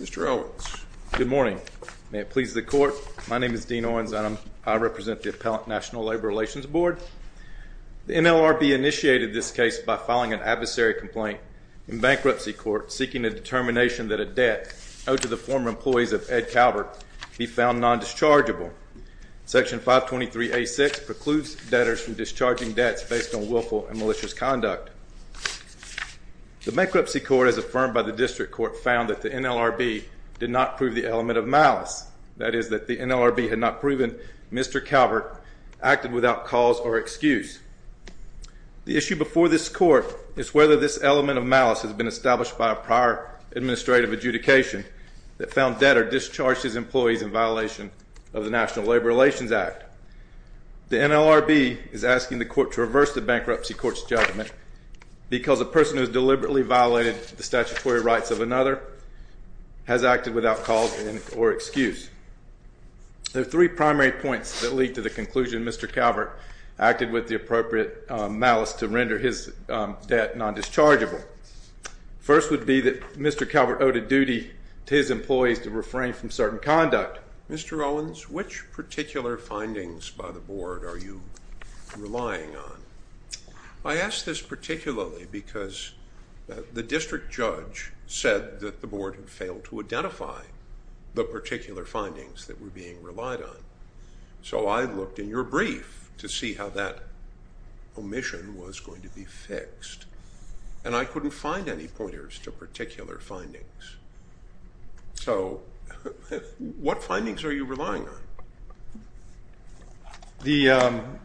Mr. Owens. Good morning. May it please the court, my name is Dean Owens and I represent the Appellant National Labor Relations Board. The NLRB initiated this case by filing an adversary complaint in bankruptcy court seeking a determination that a debt owed to the former employees of Ed Calvert be found non-dischargeable. Section 523A.6 precludes debtors from discharging debts based on willful and malicious conduct. The bankruptcy court as affirmed by the district court found that the NLRB did not prove the element of malice, that is that the NLRB had not proven Mr. Calvert acted without cause or excuse. The issue before this court is whether this element of malice has been established by a prior administrative adjudication that found debtor discharged his employees in violation of the National Labor Relations Act. The NLRB is asking the court to reverse the bankruptcy court's judgment because a person who has deliberately violated the statutory rights of another has acted without cause or excuse. There are three primary points that lead to the conclusion Mr. Calvert acted with the appropriate malice to render his debt non-dischargeable. First would be that Mr. Calvert owed a duty to his employees to refrain from certain conduct. Mr. Owens, which particular findings by the court are you relying on? I ask this particularly because the district judge said that the board had failed to identify the particular findings that were being relied on. So I looked in your brief to see how that omission was going to be fixed and I couldn't find any pointers to particular findings. So what findings are you relying on?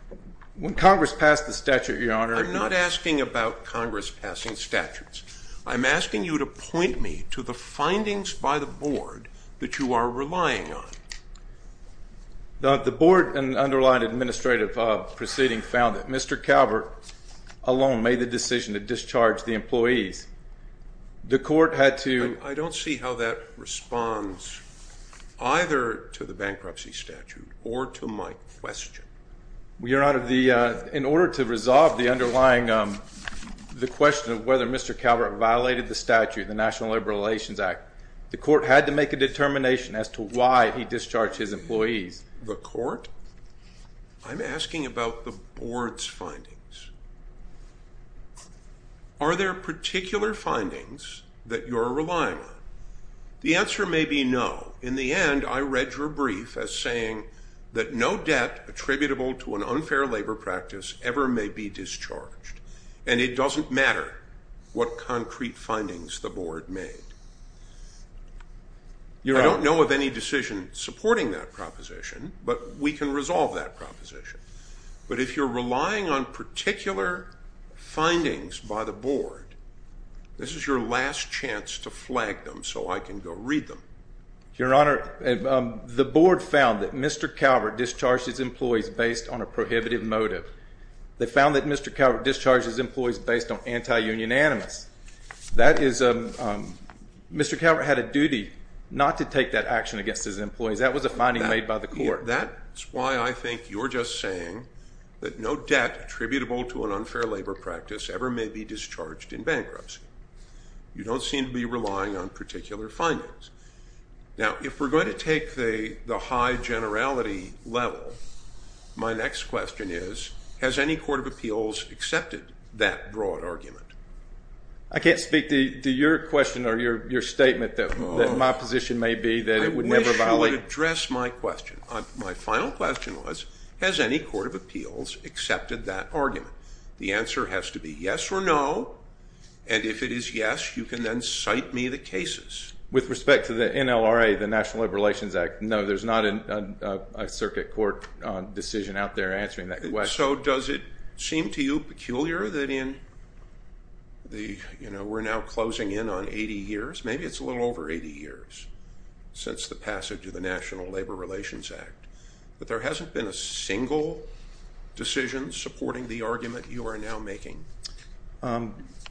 When Congress passed the statute, Your Honor... I'm not asking about Congress passing statutes. I'm asking you to point me to the findings by the board that you are relying on. The board and underlined administrative proceeding found that Mr. Calvert alone made the decision to discharge the employees. The court had to... I don't see how that responds either to the bankruptcy statute or to my question. Your Honor, in order to resolve the underlying question of whether Mr. Calvert violated the statute, the National Labor Relations Act, the court had to make a determination as to why he discharged his employees. The court? I'm asking about the board's findings. Are there particular findings that you're relying on? The answer may be no. In the end, I read your brief as saying that no debt attributable to an unfair labor practice ever may be discharged and it doesn't matter what concrete findings the board made. I don't know of any decision supporting that proposition, but we can resolve that proposition. But if you're relying on particular findings by the board, this is your last chance to flag them so I can go read them. Your Honor, the board found that Mr. Calvert discharged his employees based on a prohibitive motive. They found that Mr. Calvert discharged his employees based on anti-union animus. Mr. Calvert had a duty not to take that action against his employees. That was a finding made by the court. That's why I think you're just saying that no debt attributable to an unfair labor practice ever may be discharged in bankruptcy. You don't seem to be relying on particular findings. Now, if we're going to take the high generality level, my next question is, has any court of appeals accepted that broad argument? I can't speak to your question or your statement that my position may be that it would never violate... I wish you would address my question. My final question was, has any court of appeals accepted that argument? The answer has to be yes or no, and if it is yes, you can then cite me the cases. With respect to the NLRA, the National Labor Relations Act, no, there's not a circuit court decision out there answering that question. So does it seem to you peculiar that we're now closing in on 80 years? Maybe it's a little over 80 years since the passage of the National Labor Relations Act, but there is...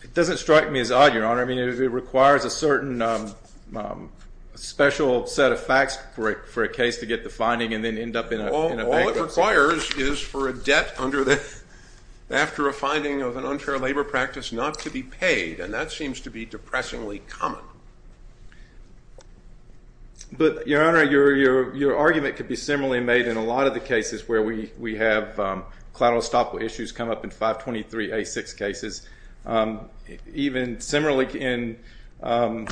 It doesn't strike me as odd, Your Honor. I mean, it requires a certain special set of facts for a case to get the finding and then end up in a bankruptcy. All it requires is for a debt after a finding of an unfair labor practice not to be paid, and that seems to be depressingly common. But, Your Honor, your argument could be similarly made in a moral stopper issues come up in 523A6 cases. Even similarly in, I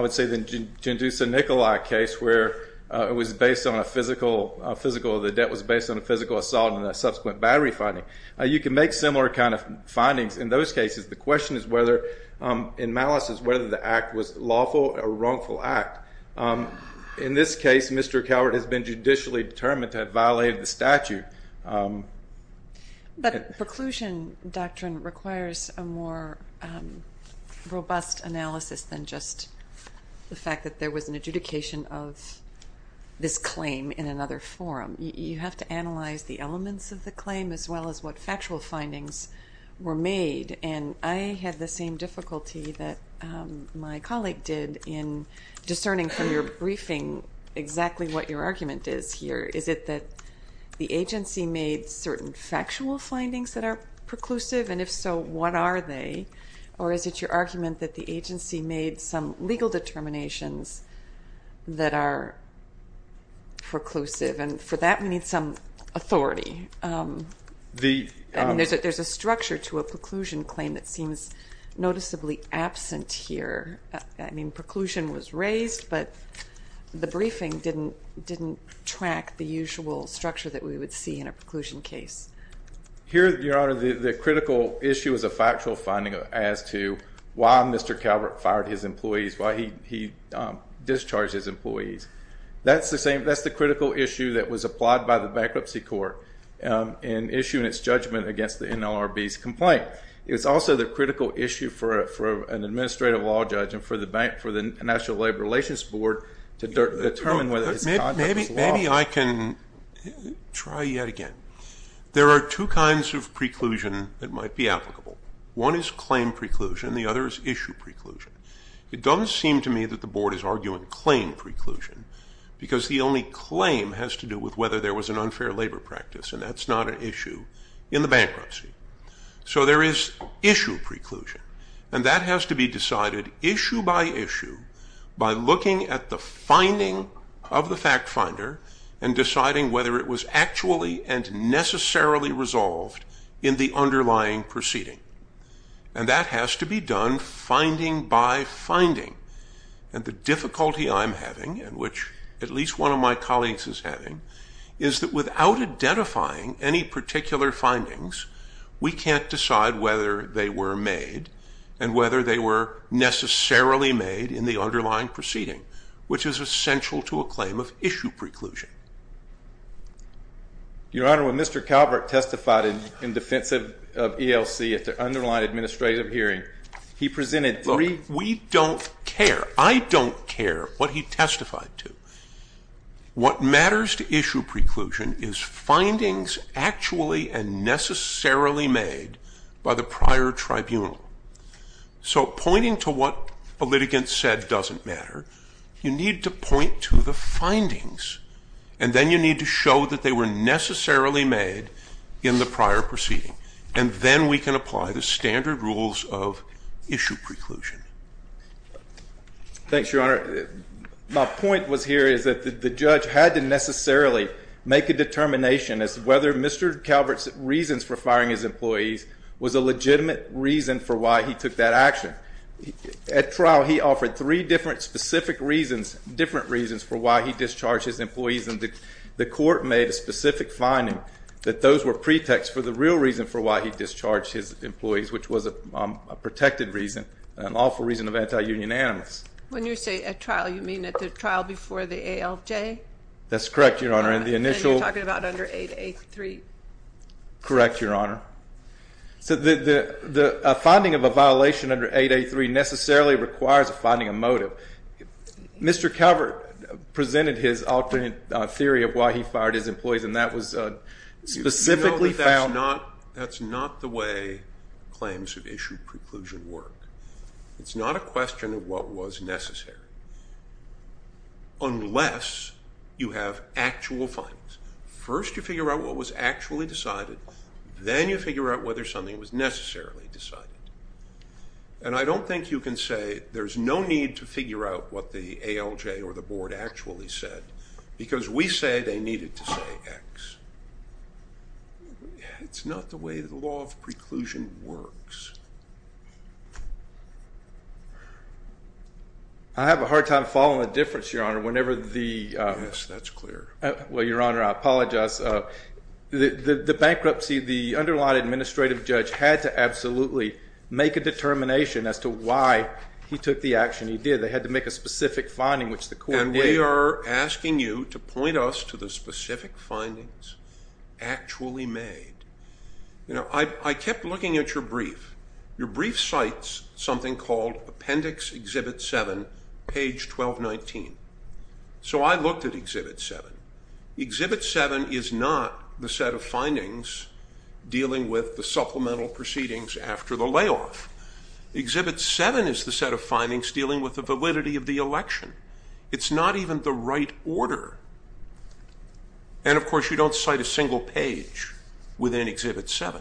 would say, the Gendouza-Nicolai case, where it was based on a physical... The debt was based on a physical assault and a subsequent battery finding. You can make similar kind of findings in those cases. The question is whether, in malice, is whether the act was lawful or wrongful act. In this case, it was. But preclusion doctrine requires a more robust analysis than just the fact that there was an adjudication of this claim in another forum. You have to analyze the elements of the claim as well as what factual findings were made, and I had the same difficulty that my colleague did in discerning from your briefing exactly what your argument is here. Is it that the agency made certain factual findings that are preclusive? And if so, what are they? Or is it your argument that the agency made some legal determinations that are preclusive? And for that, we need some authority. I mean, there's a structure to a preclusion claim that seems noticeably absent here. I mean, preclusion was raised, but the usual structure that we would see in a preclusion case. Here, Your Honor, the critical issue is a factual finding as to why Mr. Calvert fired his employees, why he discharged his employees. That's the critical issue that was applied by the Bankruptcy Court in issuing its judgment against the NLRB's complaint. It's also the critical issue for an administrative law judge and for the National Labor Relations Board to determine whether his conduct was legitimate. Try yet again. There are two kinds of preclusion that might be applicable. One is claim preclusion, and the other is issue preclusion. It doesn't seem to me that the Board is arguing claim preclusion, because the only claim has to do with whether there was an unfair labor practice, and that's not an issue in the bankruptcy. So there is issue preclusion, and that has to be decided issue by issue by looking at the finding of the proceeding, and deciding whether it was actually and necessarily resolved in the underlying proceeding. And that has to be done finding by finding. And the difficulty I'm having, and which at least one of my colleagues is having, is that without identifying any particular findings, we can't decide whether they were made and whether they were necessarily made in the underlying proceeding, which is essential to a claim of issue preclusion. Your Honor, when Mr. Calvert testified in defense of ELC at the underlying administrative hearing, he presented three... We don't care. I don't care what he testified to. What matters to issue preclusion is findings actually and necessarily made by the prior tribunal. So pointing to what a litigant said doesn't matter. You need to point to the findings, and then you need to show that they were necessarily made in the prior proceeding. And then we can apply the standard rules of issue preclusion. Thanks, Your Honor. My point was here is that the judge had to necessarily make a determination as to whether Mr. Calvert's reasons for firing his employees was a legitimate reason for why he took that action. At trial, he offered three different specific reasons, different reasons for why he discharged his employees, and the court made a specific finding that those were pretexts for the real reason for why he discharged his employees, which was a protected reason, an awful reason of anti-union animus. When you say at trial, you mean at the trial before the ALJ? That's correct, Your Honor. And you're talking about under 8A3? Correct, Your Honor. So the finding of a violation under 8A3 necessarily requires a finding of motive. Mr. Calvert presented his alternate theory of why he fired his employees, and that was specifically found- You know that that's not the way claims of issue preclusion work. It's not a question of what was necessary, unless you have actual findings. First, you figure out what was actual decided, then you figure out whether something was necessarily decided. And I don't think you can say there's no need to figure out what the ALJ or the board actually said, because we say they needed to say X. It's not the way the law of preclusion works. I have a hard time following the difference, Your Honor, whenever the- Yes, that's clear. Well, Your Honor, I apologize. The bankruptcy, the underlying administrative judge had to absolutely make a determination as to why he took the action he did. They had to make a specific finding, which the court did. And we are asking you to point us to the specific findings actually made. I kept looking at your brief. Your brief cites something called Appendix Exhibit 7, page 1219. So I looked at Exhibit 7. Exhibit 7 is not the set of findings dealing with the supplemental proceedings after the layoff. Exhibit 7 is the set of findings dealing with the validity of the election. It's not even the right order. And, of course, you don't cite a single page within Exhibit 7.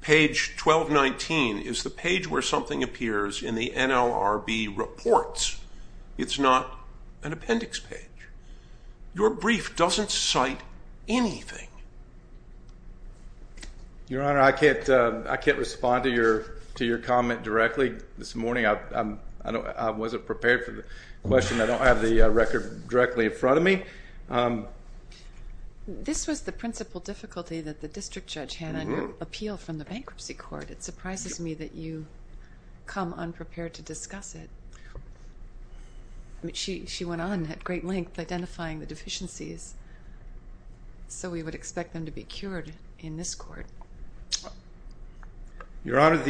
Page 1219 is the page where something appears in the NLRB reports. It's not an appendix page. Your brief doesn't cite anything. Your Honor, I can't respond to your comment directly. This morning, I wasn't prepared for the question. I don't have the record directly in front of me. This was the principal difficulty that the district judge had on your appeal from the bankruptcy court. It surprises me that you come unprepared to discuss it. She went on at great length identifying the deficiencies, so we would expect them to be cured in this court. Your Honor,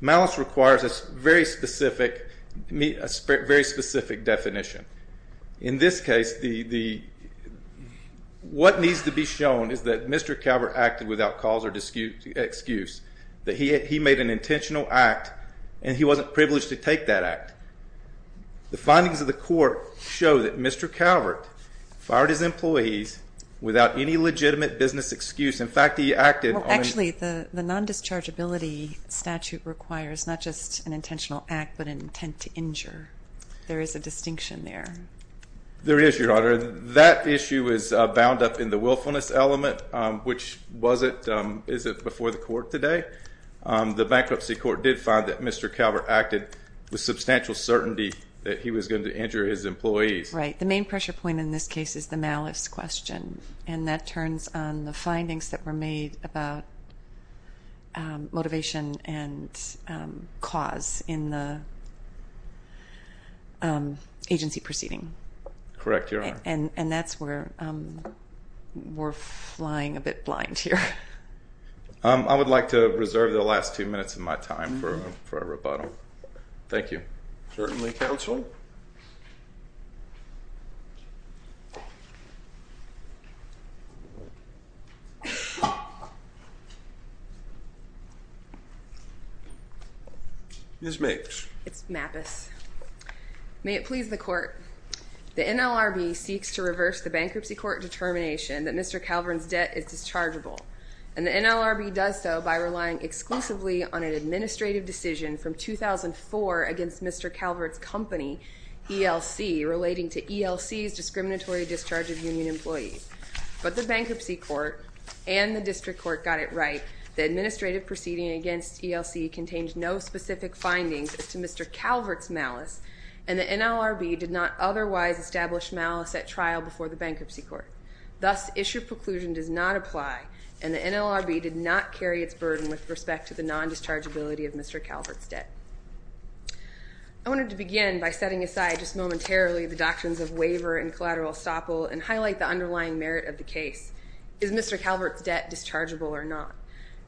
malice requires a very specific definition. In this case, what needs to be shown is that Mr. Calvert acted without cause or excuse, that he made an intentional act, and he wasn't privileged to take that act. The findings of the court show that Mr. Calvert fired his employees without any legitimate business excuse. In fact, he acted on a— Well, actually, the non-dischargeability statute requires not just an intentional act but an intent to injure. There is a distinction there. There is, Your Honor. That issue is bound up in the willfulness element, which was it—is before the court today. The bankruptcy court did find that Mr. Calvert acted with substantial certainty that he was going to injure his employees. Right. The main pressure point in this case is the malice question, and that turns on the findings that were made about motivation and cause in the agency proceeding. Correct, Your Honor. And that's where we're flying a bit blind here. I would like to reserve the last two minutes of my time for a rebuttal. Thank you. Certainly, counsel. Ms. Mates. It's Mapus. May it please the court, the NLRB seeks to reverse the bankruptcy court determination that Mr. Calvert's debt is dischargeable, and the NLRB does so by relying exclusively on an administrative decision from 2004 against Mr. Calvert's company, ELC, relating to ELC's discriminatory discharge of union employees. But the bankruptcy court and the district court got it right. The administrative proceeding against ELC contains no specific findings as to Mr. Calvert's malice, and the NLRB did not otherwise establish malice at trial before the bankruptcy court. Thus, issue preclusion does not apply, and the NLRB did not carry its burden with respect to the non-dischargeability of Mr. Calvert's debt. I wanted to begin by setting aside just momentarily the doctrines of waiver and collateral estoppel and highlight the underlying merit of the case. Is Mr. Calvert's debt dischargeable or not?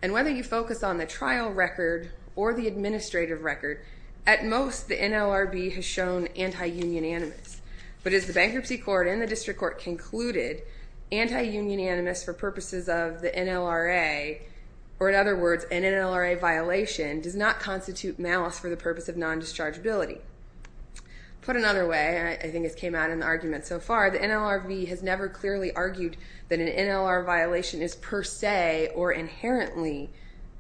And whether you focus on the trial record or the administrative record, at most the NLRB has shown anti-union animus. But as the bankruptcy court and the district court concluded, anti-union animus for purposes of the NLRA, or in other words, an NLRA violation, does not constitute malice for the purpose of non-dischargeability. Put another way, and I think it's came out in the argument so far, the NLRB has never clearly argued that an NLR violation is per se or inherently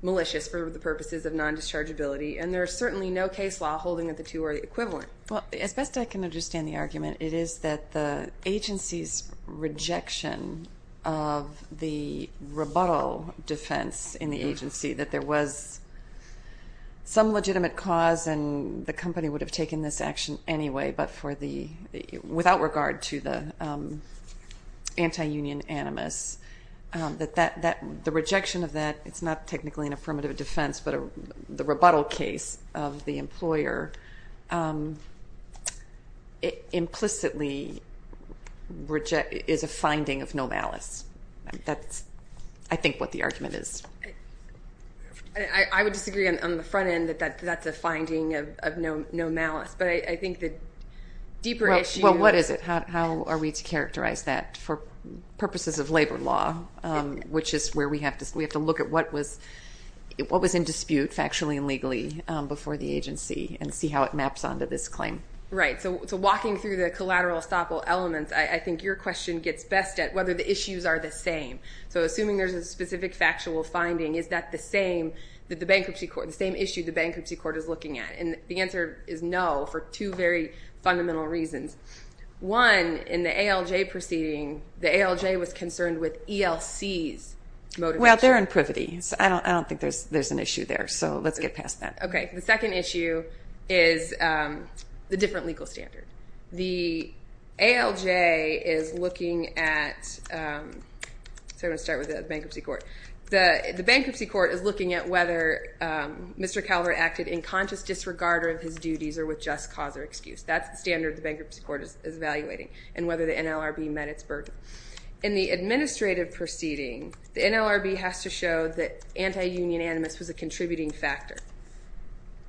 malicious for the purposes of non-dischargeability, and there is certainly no case law holding that the two are equivalent. Well, as best I can understand the argument, it is that the agency's rejection of the rebuttal defense in the agency, that there was some legitimate cause and the company would have taken this action anyway, but without regard to the anti-union animus. The rejection of that, it's not technically an affirmative defense, but the rebuttal case of the employer implicitly is a finding of no malice. That's, I think, what the argument is. I would disagree on the front end that that's a finding of no malice, but I think the deeper issue... Well, what is it? How are we to characterize that for purposes of labor law, which is where we have to look at what was in dispute, factually and legally, before the agency and see how it maps onto this claim. Right. So walking through the collateral estoppel elements, I think your question gets best at whether the issues are the same. So assuming there's a specific factual finding, is that the same issue the bankruptcy court is looking at? And the answer is no, for two very fundamental reasons. One, in the ALJ proceeding, the ALJ was concerned with ELC's motivation. Well, they're in privity, so I don't think there's an issue there, so let's get past that. Okay. The second issue is the different legal standard. The ALJ is looking at the fact that... So I'm going to start with the bankruptcy court. The bankruptcy court is looking at whether Mr. Calvert acted in conscious disregard of his duties or with just cause or excuse. That's the standard the bankruptcy court is evaluating, and whether the NLRB met its burden. In the administrative proceeding, the NLRB has to show that anti-union animus was a contributing factor.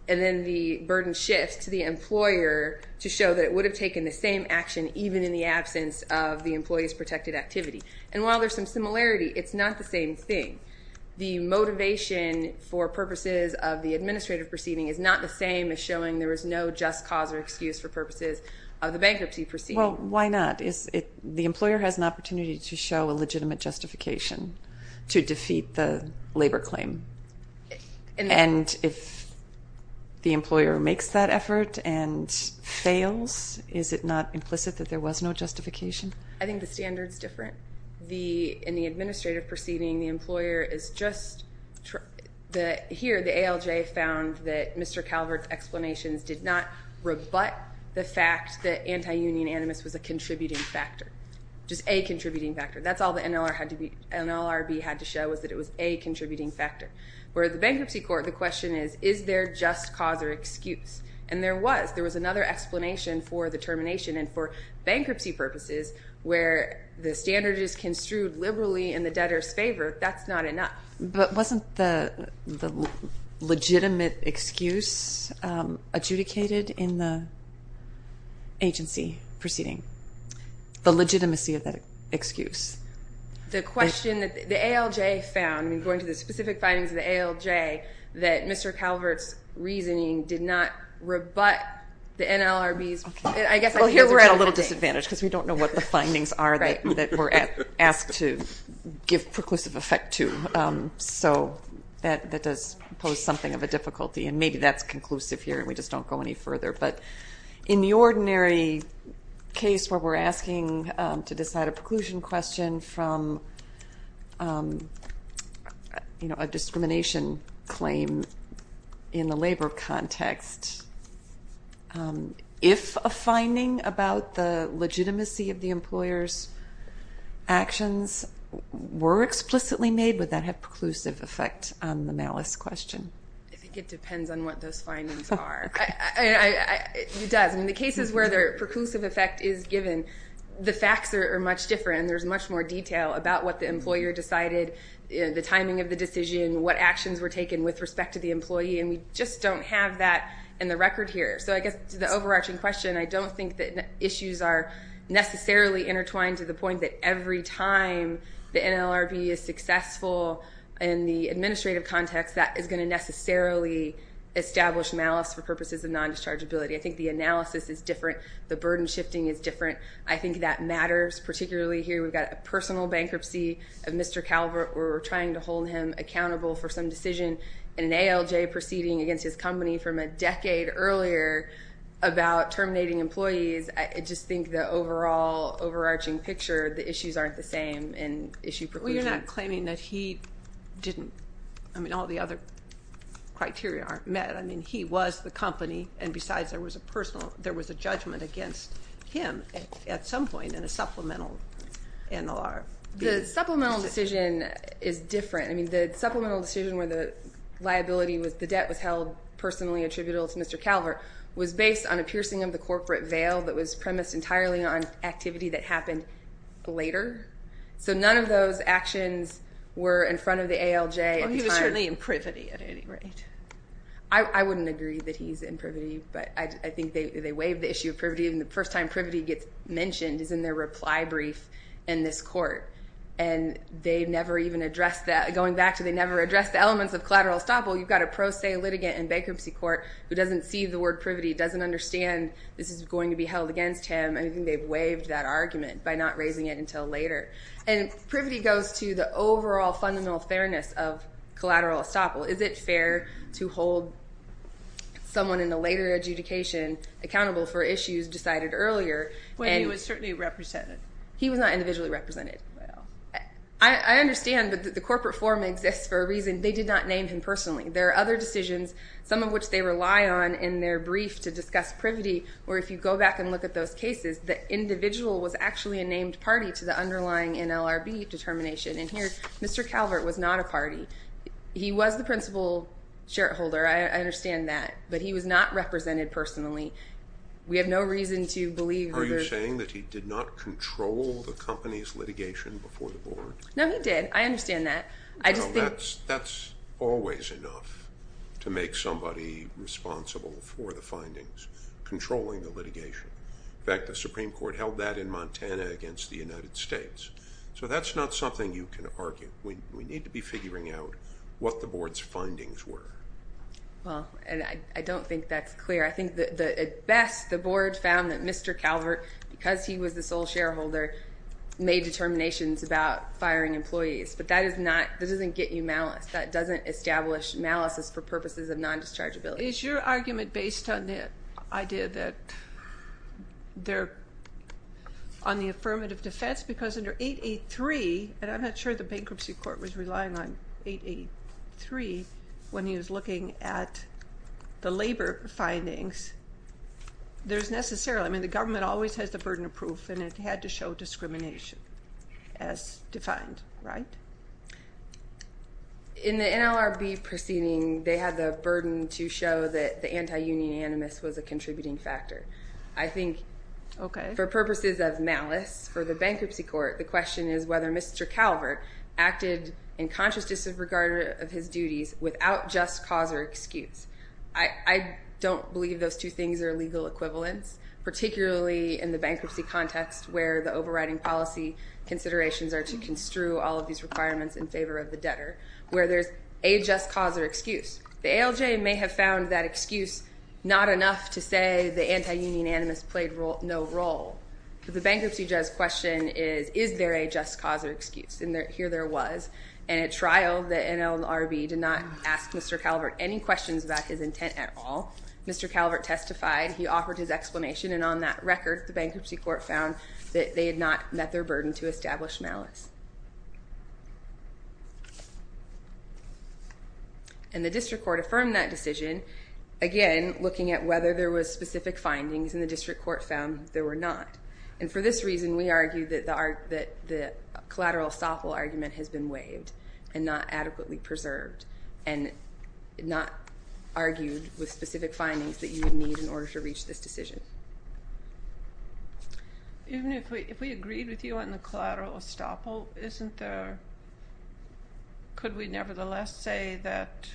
And then the burden shifts to the employer to show that it would have taken the same action, even in the absence of the employee's protected activity. And while there's some similarity, it's not the same thing. The motivation for purposes of the administrative proceeding is not the same as showing there is no just cause or excuse for purposes of the bankruptcy proceeding. Well, why not? The employer has an opportunity to show a legitimate justification to defeat the labor claim. And if the employer makes that effort and fails, is it justified? Is it not implicit that there was no justification? I think the standard's different. In the administrative proceeding, the employer is just... Here, the ALJ found that Mr. Calvert's explanations did not rebut the fact that anti-union animus was a contributing factor. Just a contributing factor. That's all the NLRB had to show was that it was a contributing factor. Where the bankruptcy court, the question is, is there just cause or excuse? And there was. There was another explanation for the termination. And for bankruptcy purposes, where the standard is construed liberally in the debtor's favor, that's not enough. But wasn't the legitimate excuse adjudicated in the agency proceeding? The legitimacy of that excuse? The question that the ALJ found, going to the specific findings of the ALJ, that Mr. Calvert did not rebut the NLRB's... I guess I could use a different thing. Well, here we're at a little disadvantage, because we don't know what the findings are that we're asked to give preclusive effect to. So that does pose something of a difficulty. And maybe that's conclusive here, and we just don't go any further. But in the ordinary case where we're asking to decide a preclusion question from a discrimination claim in the labor context, if a finding about the legitimacy of the employer's actions were explicitly made, would that have preclusive effect on the malice question? I think it depends on what those findings are. It does. In the cases where the preclusive effect is given, the facts are much different, and there's much more detail about what the actions were taken with respect to the employee, and we just don't have that in the record here. So I guess to the overarching question, I don't think that issues are necessarily intertwined to the point that every time the NLRB is successful in the administrative context, that is going to necessarily establish malice for purposes of nondischargeability. I think the analysis is different. The burden shifting is different. I think that matters, particularly here we've had a personal bankruptcy of Mr. Calvert where we're trying to hold him accountable for some decision in an ALJ proceeding against his company from a decade earlier about terminating employees. I just think the overall overarching picture, the issues aren't the same in issue preclusion. Well, you're not claiming that he didn't, I mean, all the other criteria aren't met. I mean, he was the company, and besides there was a judgment against him at some point in the supplemental NLRB. The supplemental decision is different. I mean, the supplemental decision where the liability was the debt was held personally attributable to Mr. Calvert was based on a piercing of the corporate veil that was premised entirely on activity that happened later. So none of those actions were in front of the ALJ at the time. Well, he was certainly in privity at any rate. I wouldn't agree that he's in privity, but I think they waive the issue of privity, and the first time privity gets mentioned is in their reply brief in this court, and they've never even addressed that, going back to they never addressed the elements of collateral estoppel. You've got a pro se litigant in bankruptcy court who doesn't see the word privity, doesn't understand this is going to be held against him, and I think they've waived that argument by not raising it until later. And privity goes to the overall fundamental fairness of collateral estoppel. Is it fair to hold someone in a later adjudication accountable for issues decided earlier? Well, he was certainly represented. He was not individually represented. I understand, but the corporate form exists for a reason. They did not name him personally. There are other decisions, some of which they rely on in their brief to discuss privity, where if you go back and look at those cases, the individual was actually a named party to the underlying NLRB determination, and here Mr. Calvert was not a party. He was the principal shareholder, I understand that, but he was not represented personally. We have no reason to believe that there's- Are you saying that he did not control the company's litigation before the board? No, he did. I understand that. I just think- No, that's always enough to make somebody responsible for the findings, controlling the litigation. In fact, the Supreme Court held that in Montana against the United States. So that's not something you can argue. We need to be figuring out what the board's findings were. Well, and I don't think that's clear. I think that at best, the board found that Mr. Calvert, because he was the sole shareholder, made determinations about firing employees, but that doesn't get you malice. That doesn't establish malice for purposes of non-dischargeability. Is your argument based on the idea that they're on the affirmative defense? Yes, because under 883, and I'm not sure the bankruptcy court was relying on 883 when he was looking at the labor findings, there's necessarily... I mean, the government always has the burden of proof, and it had to show discrimination as defined, right? In the NLRB proceeding, they had the burden to show that the anti-union animus was a contributing factor. I think for purposes of malice for the bankruptcy court, the question is whether Mr. Calvert acted in conscious disregard of his duties without just cause or excuse. I don't believe those two things are legal equivalents, particularly in the bankruptcy context where the overriding policy considerations are to construe all of these requirements in favor of the debtor, where there's a just cause or excuse. The ALJ may have found that excuse not enough to say the anti-union animus played no role, but the bankruptcy judge's question is, is there a just cause or excuse? Here there was, and at trial, the NLRB did not ask Mr. Calvert any questions about his intent at all. Mr. Calvert testified. He offered his explanation, and on that record, the bankruptcy court found that they had not met their burden to establish malice. The district court affirmed that decision, again, looking at whether there was specific findings, and the district court found there were not. For this reason, we argue that the collateral estoppel argument has been waived and not adequately preserved and not argued with specific findings that you would need in order to reach this decision. Even if we agreed with you on the collateral estoppel, isn't there... could we nevertheless say that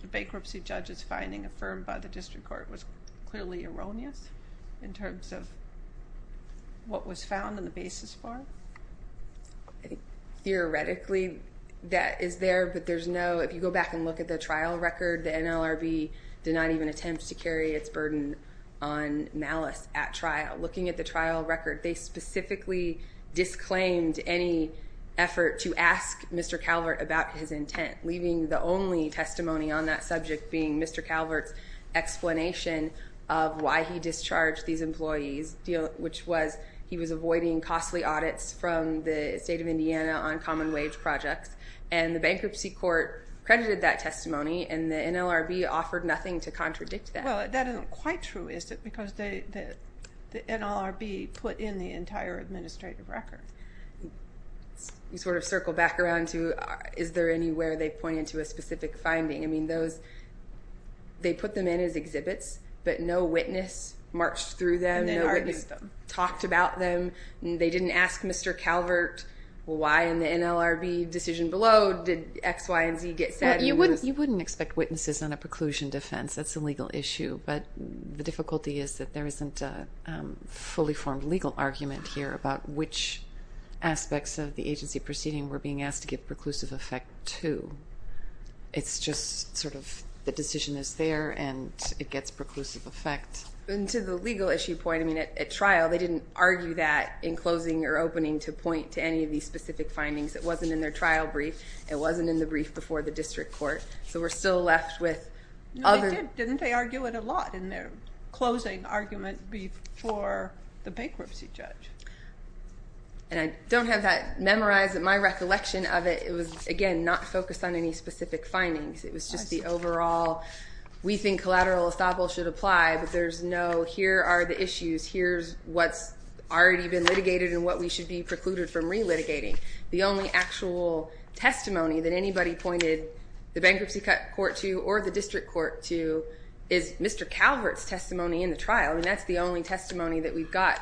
the bankruptcy judge's finding affirmed by the district court was clearly erroneous in terms of what was found in the basis bar? Theoretically, that is there, but there's no... if you go back and look at the trial record, the NLRB did not even attempt to carry its burden on malice at trial. Looking at the trial record, they specifically disclaimed any effort to ask Mr. Calvert about his intent, leaving the only testimony on that subject being Mr. Calvert's explanation of why he discharged these employees, which was he was avoiding costly audits from the state of Indiana on common wage projects, and the bankruptcy court credited that testimony and the NLRB offered nothing to contradict that. Well, that isn't quite true, is it, because the NLRB put in the entire administrative record. You sort of circle back around to is there anywhere they pointed to a specific finding. They put them in as exhibits, but no witness marched through them, no witness talked about them. They didn't ask Mr. Calvert why in the NLRB decision below did X, Y, and Z get said. You wouldn't expect witnesses on a preclusion defense. That's a legal issue, but the difficulty is that there isn't a fully formed legal argument here about which aspects of the agency proceeding were being asked to give preclusive effect to. It's just sort of the decision is there and it gets preclusive effect. To the legal issue point, at trial they didn't argue that in closing or opening to point to any of these specific findings. It wasn't in their trial brief. It wasn't in the brief before the district court, so we're still left with other... No, they did. Didn't they argue it a lot in their closing argument before the bankruptcy judge? And I don't have that memorized. My recollection of it, it was, again, not focused on any specific findings. It was just the overall, we think collateral estoppel should apply, but there's no here are the issues, here's what's already been litigated and what we should be precluded from re-litigating. The only actual testimony that anybody pointed the bankruptcy court to or the district court to is Mr. Calvert's testimony in the trial, and that's the only testimony that we've got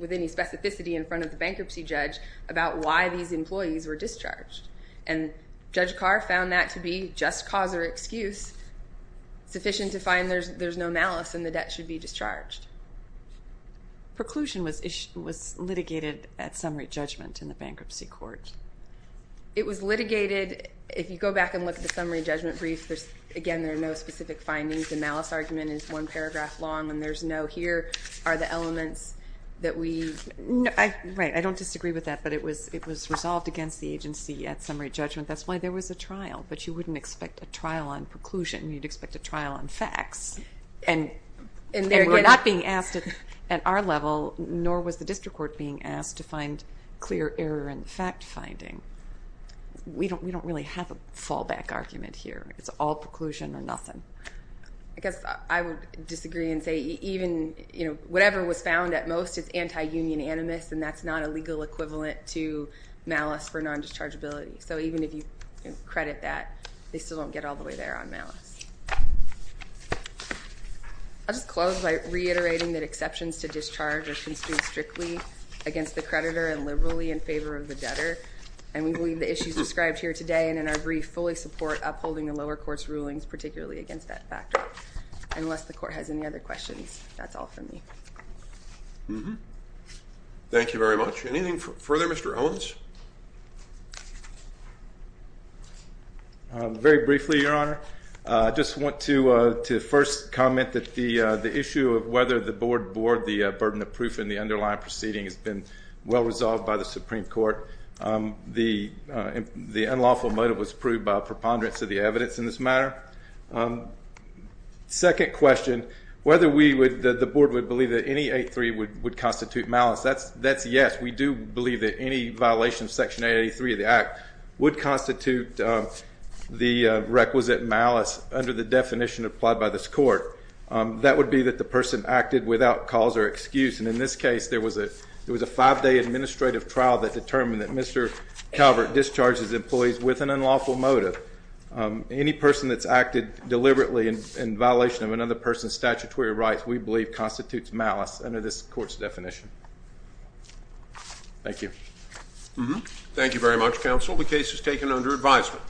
with any specificity in front of the bankruptcy judge about why these employees were discharged. And Judge Carr found that to be just cause or excuse sufficient to find there's no malice and the debt should be discharged. Preclusion was litigated at summary judgment in the bankruptcy court. It was litigated, if you go back and look at the summary judgment brief, again, there are no specific findings. The malice argument is one paragraph long and there's no here are the elements that we... Right. I don't disagree with that, but it was resolved against the agency at summary judgment. That's why there was a trial, but you wouldn't expect a trial on preclusion. You'd expect a trial on facts and we're not being asked at our level, nor was the district court being asked to find clear error in the fact finding. We don't really have a fallback argument here. It's all preclusion or nothing. I guess I would disagree and say even whatever was found at most is anti-union animus and that's not a legal equivalent to malice for non-dischargeability. So even if you credit that, they still don't get all the way there on malice. I'll just close by reiterating that exceptions to discharge are construed strictly against the creditor and liberally in favor of the debtor and we believe the issues described here today and in our brief fully support upholding the lower court's rulings, particularly against that factor. Unless the court has any other questions, that's all for me. Thank you very much. Thank you very much. Anything further, Mr. Owens? Very briefly, Your Honor. I just want to first comment that the issue of whether the board bore the burden of proof in the underlying proceeding has been well resolved by the Supreme Court. The unlawful motive was proved by a preponderance of the evidence in this matter. Second question, whether the board would believe that NE 8-3 would constitute malice. That's yes. We do believe that any violation of Section 883 of the Act would constitute the requisite malice under the definition applied by this court. That would be that the person acted without cause or excuse and in this case, there was a five-day administrative trial that determined that Mr. Calvert discharged his employees with an unlawful motive. Any person that's acted deliberately in violation of another person's statutory rights, we believe constitutes malice under this court's definition. Thank you. Thank you very much, counsel. The case is taken under advisement.